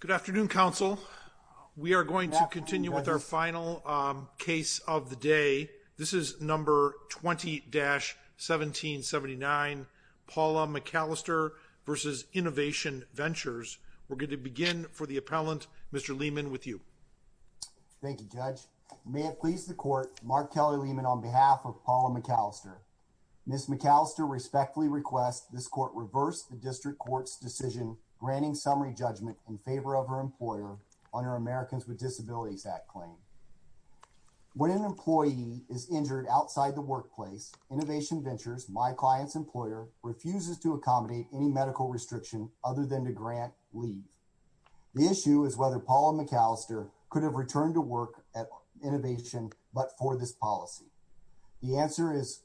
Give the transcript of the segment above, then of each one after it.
Good afternoon, counsel. We are going to continue with our final case of the day. This is number 20-1779, Paula McAllister v. Innovation Ventures. We're going to begin for the appellant, Mr. Lehman, with you. Thank you, Judge. May it please the court, Mark Kelly Lehman on behalf of Paula McAllister. Ms. McAllister respectfully request this court reverse the district court's decision granting summary judgment in favor of her employer on her Americans with Disabilities Act claim. When an employee is injured outside the workplace, Innovation Ventures, my client's employer, refuses to accommodate any medical restriction other than to grant leave. The issue is whether Paula McAllister could have returned to work at Innovation but for this policy. The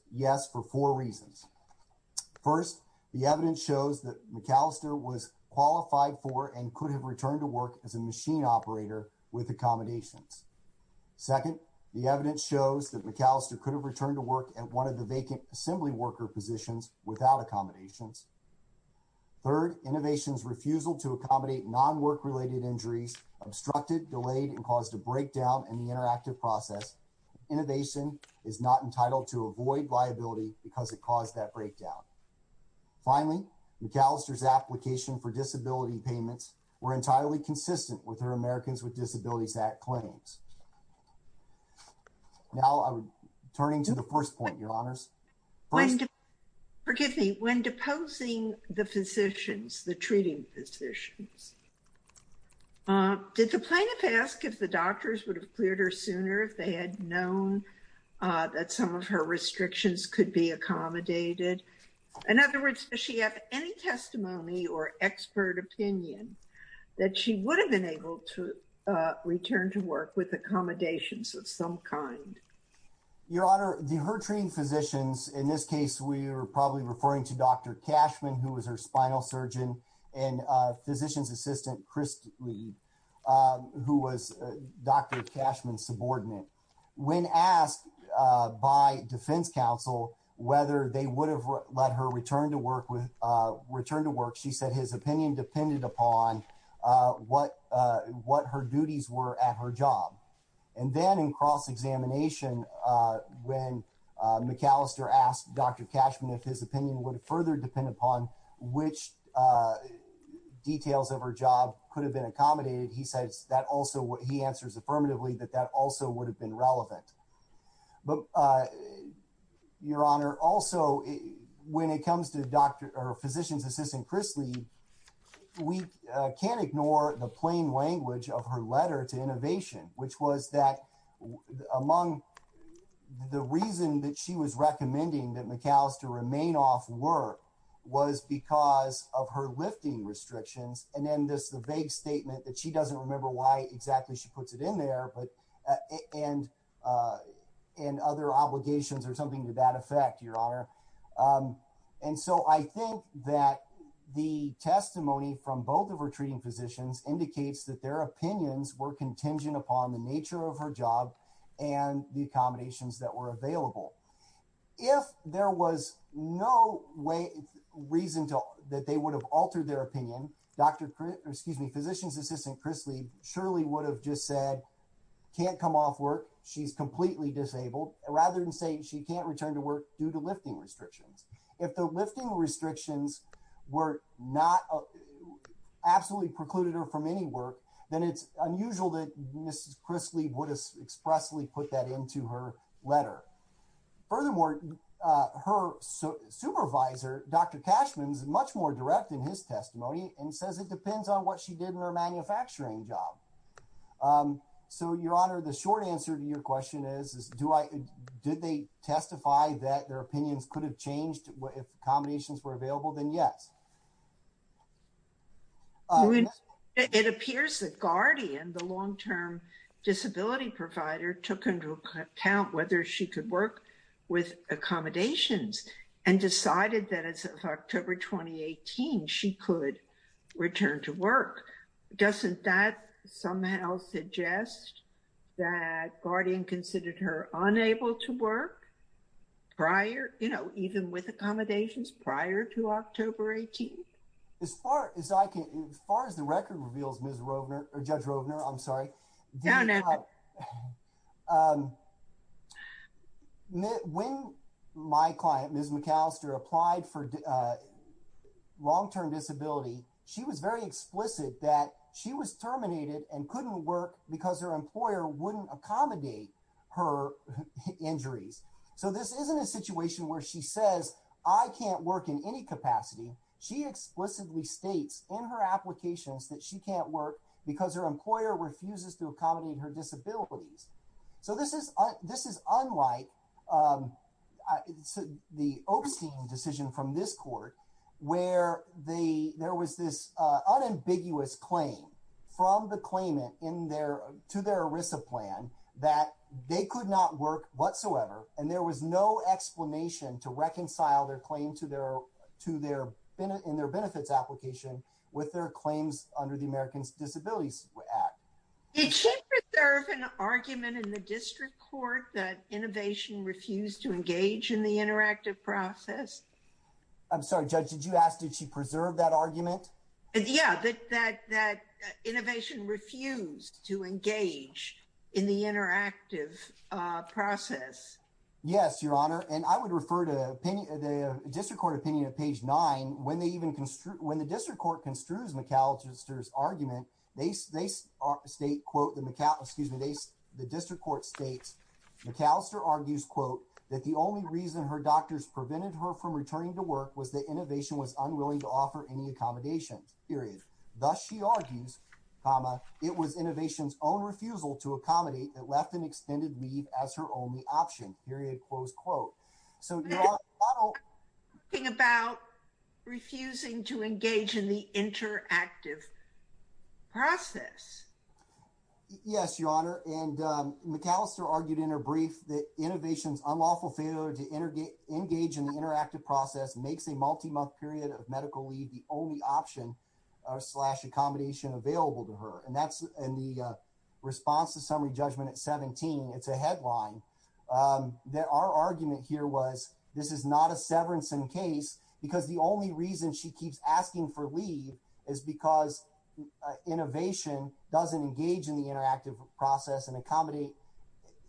first, the evidence shows that McAllister was qualified for and could have returned to work as a machine operator with accommodations. Second, the evidence shows that McAllister could have returned to work at one of the vacant assembly worker positions without accommodations. Third, Innovation's refusal to accommodate non-work-related injuries obstructed, delayed, and caused a breakdown in the interactive process. Innovation is not entitled to avoid liability because it caused that breakdown. Finally, McAllister's application for disability payments were entirely consistent with her Americans with Disabilities Act claims. Now I'm turning to the first point, Your Honors. Forgive me, when deposing the physicians, the treating physicians, did the plaintiff ask if the doctors would have cleared her sooner if they had known that some of her restrictions could be accommodated? In other words, does she have any testimony or expert opinion that she would have been able to return to work with accommodations of some kind? Your Honor, the her treating physicians, in this case we were probably referring to Dr. Cashman, who was her spinal surgeon, and physician's assistant, Chris Lee, who was Dr. Cashman's subordinate. When asked by defense counsel whether they would have let her return to work with, return to work, she said his opinion depended upon what what her duties were at her job. And then in cross-examination, when McAllister asked Dr. Cashman if his opinion would further depend upon which details of her job could have been accommodated, he says that also what he answers affirmatively that that also would have been relevant. But Your Honor, also when it comes to physician's assistant Chris Lee, we can't ignore the plain language of her letter to innovation, which was that among the reason that she was recommending that McAllister remain off work was because of her lifting restrictions, and then this the vague statement that she doesn't remember why exactly she puts it in there, and other obligations or something to that effect, Your Honor. And so I think that the testimony from both of her treating physicians indicates that their opinions were contingent upon the nature of her job and the accommodations that were available. If there was no way, reason to that they would have altered their opinion, physician's assistant Chris Lee surely would have just said can't come off work, she's completely disabled, rather than say she can't return to work due to lifting restrictions. If the lifting restrictions were not absolutely precluded her from any work, then it's unusual that Mrs. Chris Lee would expressly put that into her letter. Furthermore, her supervisor, Dr. Cashman's much more direct in his testimony and says it depends on what she did in her manufacturing job. Um, so Your Honor, the short answer to your question is, do I? Did they testify that their opinions could have changed? If combinations were available, then yes. Uh, it appears that Guardian, the long term disability provider, took into account whether she could work with accommodations and decided that it's a October 2018 she could return to work. Doesn't that somehow suggest that Guardian considered her unable to work prior, you know, even with accommodations prior to October 18th. As far as I can, as far as the record reveals, Miss Rovner or Judge Rovner. I'm sorry. Don't know. Um, when my client, Ms McAllister, applied for, uh, long term disability, she was very explicit that she was terminated and couldn't work because her employer wouldn't accommodate her injuries. So this isn't a situation where she says I can't work in any capacity. She explicitly states in her applications that she can't work because her employer refuses to accommodate her disabilities. So this is this is unlike, um, the opus team decision from this court where the there was this unambiguous claim from the claimant in their to their Arisa plan that they could not work whatsoever. And there was no explanation to reconcile their claim to their to their in their benefits application with their claims under the Americans Disabilities Act. Did she preserve an argument in the district court that innovation refused to engage in the interactive process? I'm sorry, Judge, did you ask? Did she preserve that argument? Yeah, that that innovation refused to engage in the interactive process? Yes, Your Honor. And I would refer to the district court opinion of page nine when they even construed when the district court construes McAllister's argument, they state quote the McCall excuse me, the district court states McAllister argues quote that the only reason her doctors prevented her from returning to work was that innovation was unwilling to offer any accommodations period. Thus, she argues, it was innovation's own refusal to accommodate that left an extended leave as her only option period. Close quote. So you're talking about refusing to engage in the interactive process. Yes, Your Honor. And McAllister argued in her brief that innovation's unlawful failure to engage in the interactive process makes a multi month period of medical leave the only option slash accommodation available to her. And that's in the response to summary judgment at 17. It's a headline. Um, that our argument here was this is not a severance in case because the only reason she keeps asking for leave is because innovation doesn't engage in the interactive process and accommodate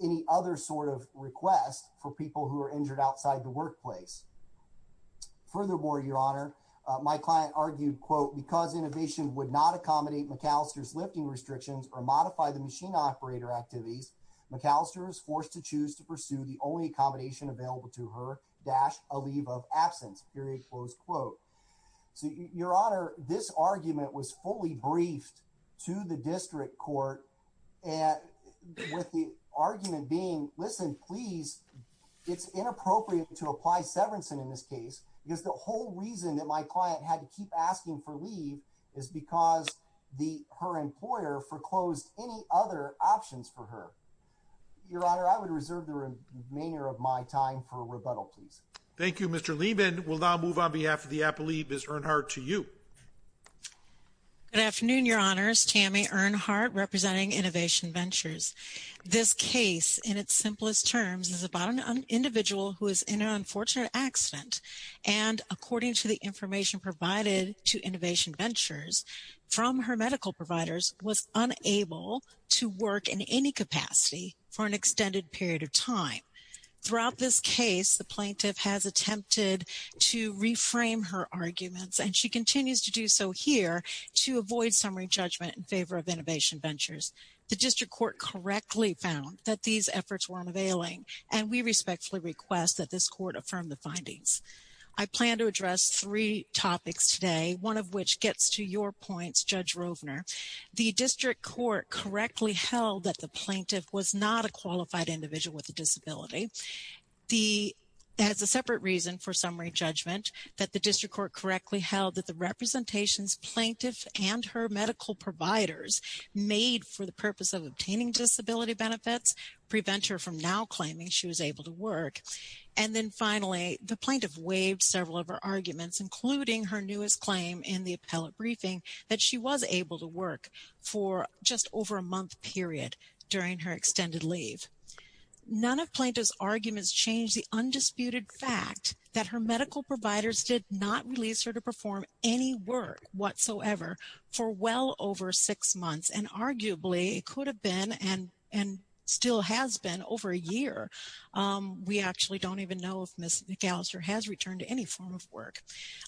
any other sort of request for people who are injured outside the workplace. Furthermore, Your Honor, my client argued quote because innovation would not accommodate McAllister's lifting restrictions or modify the machine operator activities, McAllister is forced to choose to pursue the only accommodation available to her dash a leave of absence period. Close quote. So, Your Honor, this argument was fully briefed to the district court and with the argument being listen, please, it's inappropriate to apply severance. And in this case, because the whole reason that my client had to keep asking for leave is because the her employer foreclosed any other options for her. Your Honor, I would reserve the remainder of my time for rebuttal. Please. Thank you, Mr Lehman. We'll now move on behalf of the app. Believe is Earnhardt to you. Good afternoon, Your Honor's Tammy Earnhardt representing Innovation Ventures. This case in its simplest terms is about an individual who is in an unfortunate accident. And according to the information provided to Innovation Ventures from her medical providers was unable to work in any capacity for an extended period of time. Throughout this case, the plaintiff has attempted to reframe her arguments, and she continues to do so here to avoid summary judgment in favor of Innovation Ventures. The district court correctly found that these efforts were unavailing, and we respectfully request that this court affirmed the findings. I plan to address three topics today. One of which gets to your points, Judge Rovner. The district court correctly held that the plaintiff was not a qualified individual with a disability. The has a separate reason for summary judgment that the district court correctly held that the representations plaintiff and her medical providers made for the purpose of obtaining disability benefits prevent her from now claiming she was able to work. And then finally, the plaintiff waived several of her in the appellate briefing that she was able to work for just over a month period during her extended leave. None of plaintiff's arguments change the undisputed fact that her medical providers did not release her to perform any work whatsoever for well over six months and arguably could have been and still has been over a year. We actually don't even know if Ms. McAllister has returned to any form of work.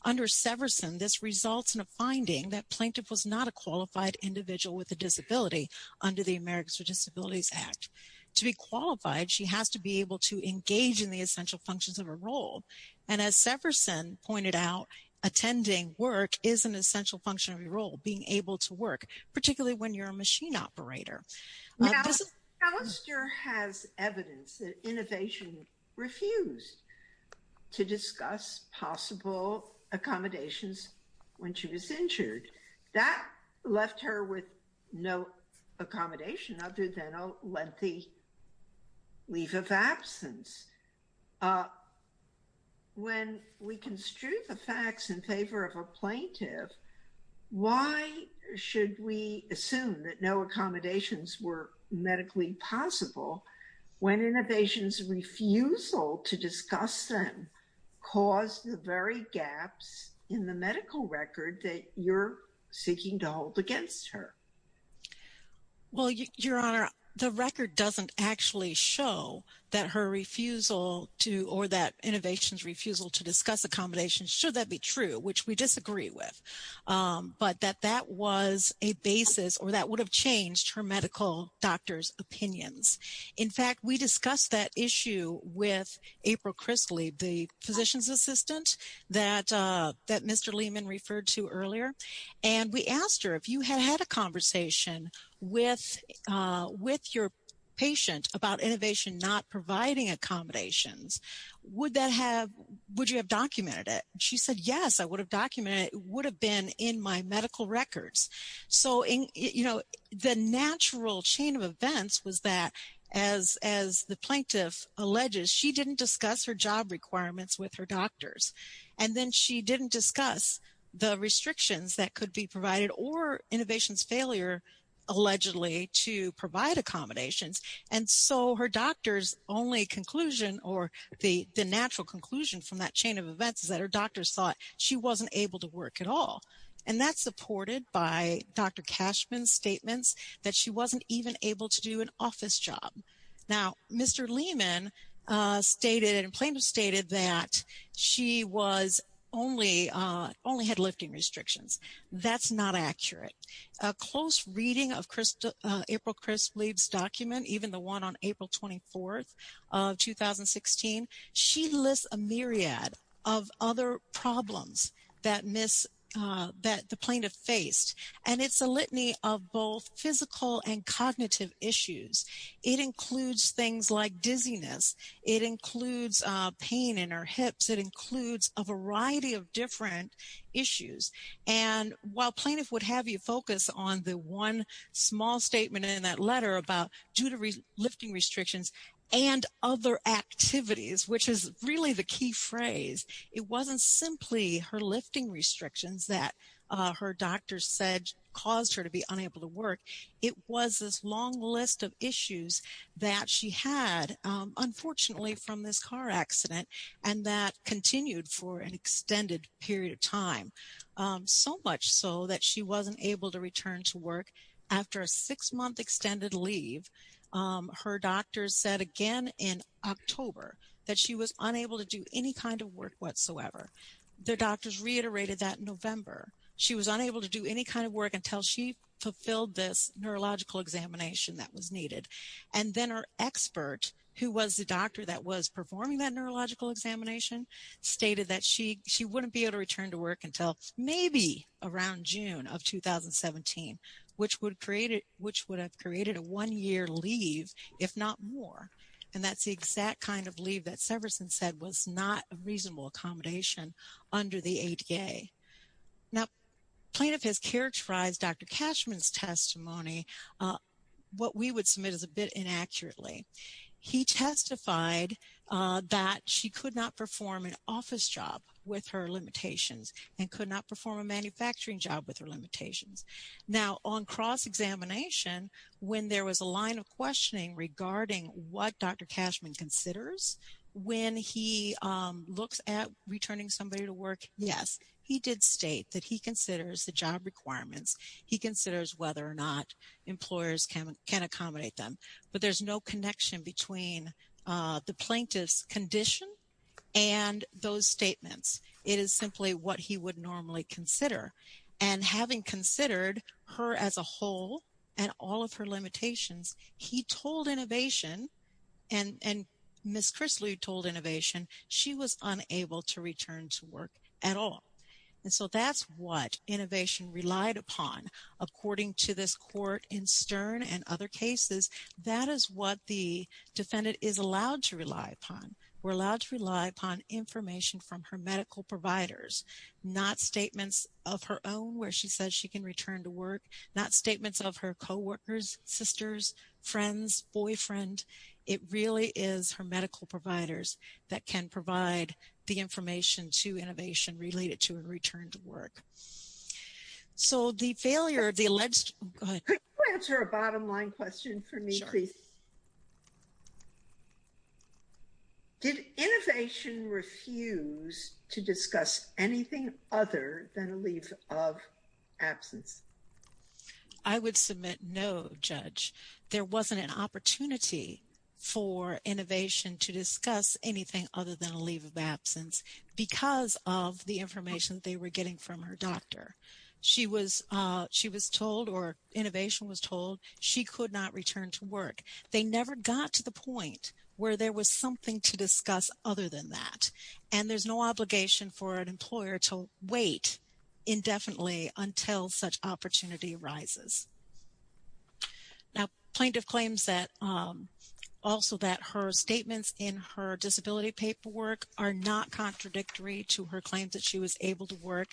Under Severson, this results in a finding that plaintiff was not a qualified individual with a disability under the Americans with Disabilities Act. To be qualified, she has to be able to engage in the essential functions of her role. And as Severson pointed out, attending work is an essential function of your role, being able to work, particularly when you're a machine operator. Ms. McAllister has evidence that innovation refused to discuss possible accommodations when she was injured. That left her with no accommodation other than a lengthy leave of absence. When we construe the facts in favor of a medically possible, when innovation's refusal to discuss them caused the very gaps in the medical record that you're seeking to hold against her. Well, Your Honor, the record doesn't actually show that her refusal to or that innovation's refusal to discuss accommodations should that be true, which we disagree with. But that that was a basis or that would have changed her medical doctor's opinions. In fact, we discussed that issue with April Chrisley, the physician's assistant that Mr. Lehman referred to earlier. And we asked her if you had had a conversation with your patient about innovation not providing accommodations, would that have, would you have documented it? She said, yes, I would have documented it. It would have been in my medical records. So, you know, the natural chain of events was that as the plaintiff alleges, she didn't discuss her job requirements with her doctors. And then she didn't discuss the restrictions that could be provided or innovation's failure, allegedly, to provide accommodations. And so her doctor's only conclusion or the natural conclusion from that chain of events is that her doctors thought she wasn't able to work at all. And that's supported by Dr. Cashman's statements that she wasn't even able to do an office job. Now, Mr. Lehman stated and plaintiff stated that she was only only had lifting restrictions. That's not accurate. A close reading of April Chrisley's document, even the one on April 24th of 2016, she lists a myriad of other problems that the plaintiff faced. And it's a litany of both physical and cognitive issues. It includes things like dizziness. It includes pain in her hips. It includes a variety of different issues. And while plaintiff would have you focus on the one small statement in that letter about due to lifting restrictions and other activities, which is really the key phrase, it wasn't simply her lifting restrictions that her doctor said caused her to be unable to work. It was this long list of issues that she had, unfortunately, from this car accident and that continued for an extended period of time, so much so that she wasn't able to return to work after a six month extended leave. Her doctor said again in October that she was unable to do any kind of work whatsoever. The doctors reiterated that in November. She was unable to do any kind of work until she fulfilled this neurological examination that was needed. And then our expert, who was the doctor that was performing that neurological examination, stated that she wouldn't be able to return to work until maybe around June of 2017, which would have created a one year leave, if not more. And that's the exact kind of leave that Severson said was not a reasonable accommodation under the ADA. Now, plaintiff has characterized Dr. Cashman's testimony. What we would submit is a bit inaccurately. He testified that she could not perform an office job with her limitations and could not perform a manufacturing job with her limitations. Now, on cross-examination, when there was a line of questioning regarding what Dr. Cashman considers when he looks at returning somebody to work, yes, he did state that he considers the job requirements. He considers whether or not employers can accommodate them. But there's no connection between the plaintiff's condition and those simply what he would normally consider. And having considered her as a whole and all of her limitations, he told Innovation, and Ms. Chrisley told Innovation, she was unable to return to work at all. And so that's what Innovation relied upon. According to this court in Stern and other cases, that is what the defendant is allowed to rely upon. We're providers, not statements of her own where she says she can return to work, not statements of her co-workers, sisters, friends, boyfriend. It really is her medical providers that can provide the information to Innovation related to a return to work. So the failure of the alleged go ahead. Could you answer a bottom line question for me, please? Did Innovation refuse to discuss anything other than a leave of absence? I would submit no, Judge. There wasn't an opportunity for Innovation to discuss anything other than a leave of absence because of the information they were getting from her doctor. She was told, or Innovation was told, she could not return to work. They never got to the point where there was something to discuss other than that. And there's no obligation for an employer to wait indefinitely until such opportunity arises. Now plaintiff claims that also that her statements in her disability paperwork are not contradictory to her claims that she was able to work.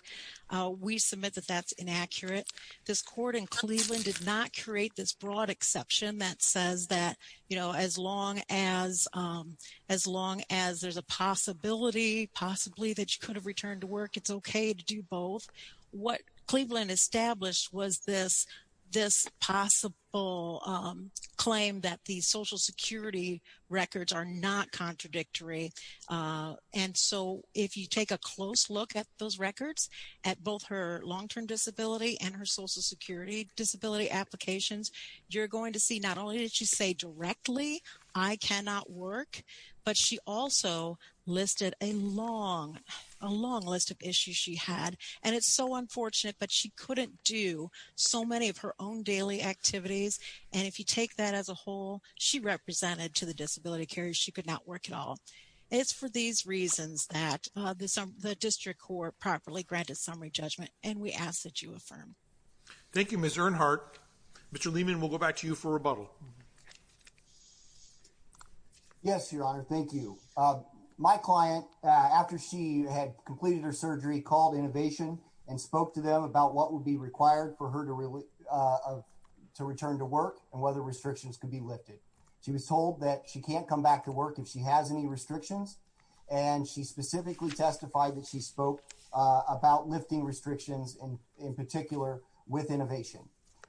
We submit that that's inaccurate. This court in Cleveland did not create this broad exception that says that, you know, as long as there's a possibility possibly that you could have returned to work, it's okay to do both. What Cleveland established was this possible claim that the social security records are not contradictory. And so if you take a close look at those records, at both her long-term disability and her social security disability applications, you're going to see not only did she say directly, I cannot work, but she also listed a long, a long list of issues she had. And it's so unfortunate, but she couldn't do so many of her own daily activities. And if you take that as a whole, she represented to the court properly granted summary judgment. And we ask that you affirm. Thank you, Ms. Earnhardt. Mr. Lehman, we'll go back to you for rebuttal. Yes, your honor. Thank you. My client, after she had completed her surgery called innovation and spoke to them about what would be required for her to return to work and whether restrictions could be lifted. She was told that she can't come back to work if she has any restrictions. And she specifically testified that she spoke about lifting restrictions in particular with innovation.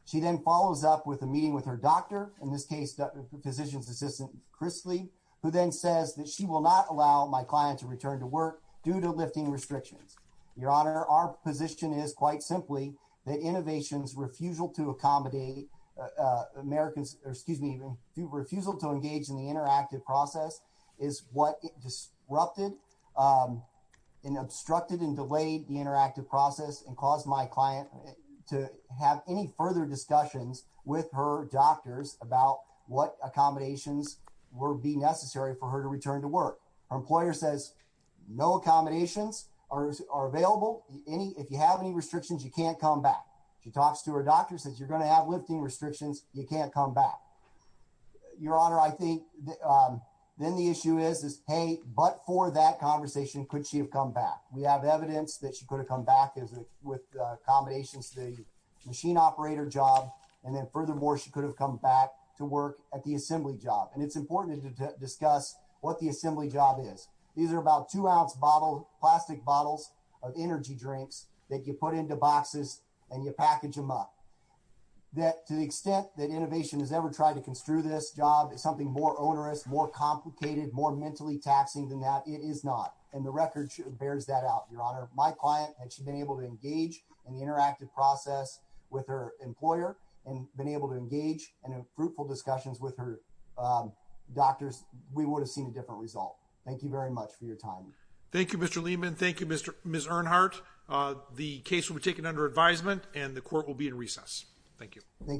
She then follows up with a meeting with her doctor, in this case, the physician's assistant, Chris Lee, who then says that she will not allow my client to return to work due to lifting restrictions. Your honor, our position is quite simply that innovations refusal to accommodate Americans, or excuse me, even refusal to engage in the interactive process is what disrupted and obstructed and delayed the interactive process and caused my client to have any further discussions with her doctors about what accommodations would be necessary for her to return to work. Her employer says no accommodations are available. If you have any lifting restrictions, you can't come back. Your honor, I think then the issue is, hey, but for that conversation, could she have come back? We have evidence that she could have come back with accommodations, the machine operator job. And then furthermore, she could have come back to work at the assembly job. And it's important to discuss what the assembly job is. These are about two ounce bottle, plastic bottles of energy drinks that you put into boxes and you that to the extent that innovation has ever tried to construe this job is something more onerous, more complicated, more mentally taxing than that it is not. And the record bears that out, your honor, my client, and she's been able to engage in the interactive process with her employer and been able to engage in a fruitful discussions with her doctors, we would have seen a different result. Thank you very much for your time. Thank you, Mr. Lehman. Thank you, Mr. Ms. Earnhardt. The case will be taken under advisement and the court will be in recess. Thank you.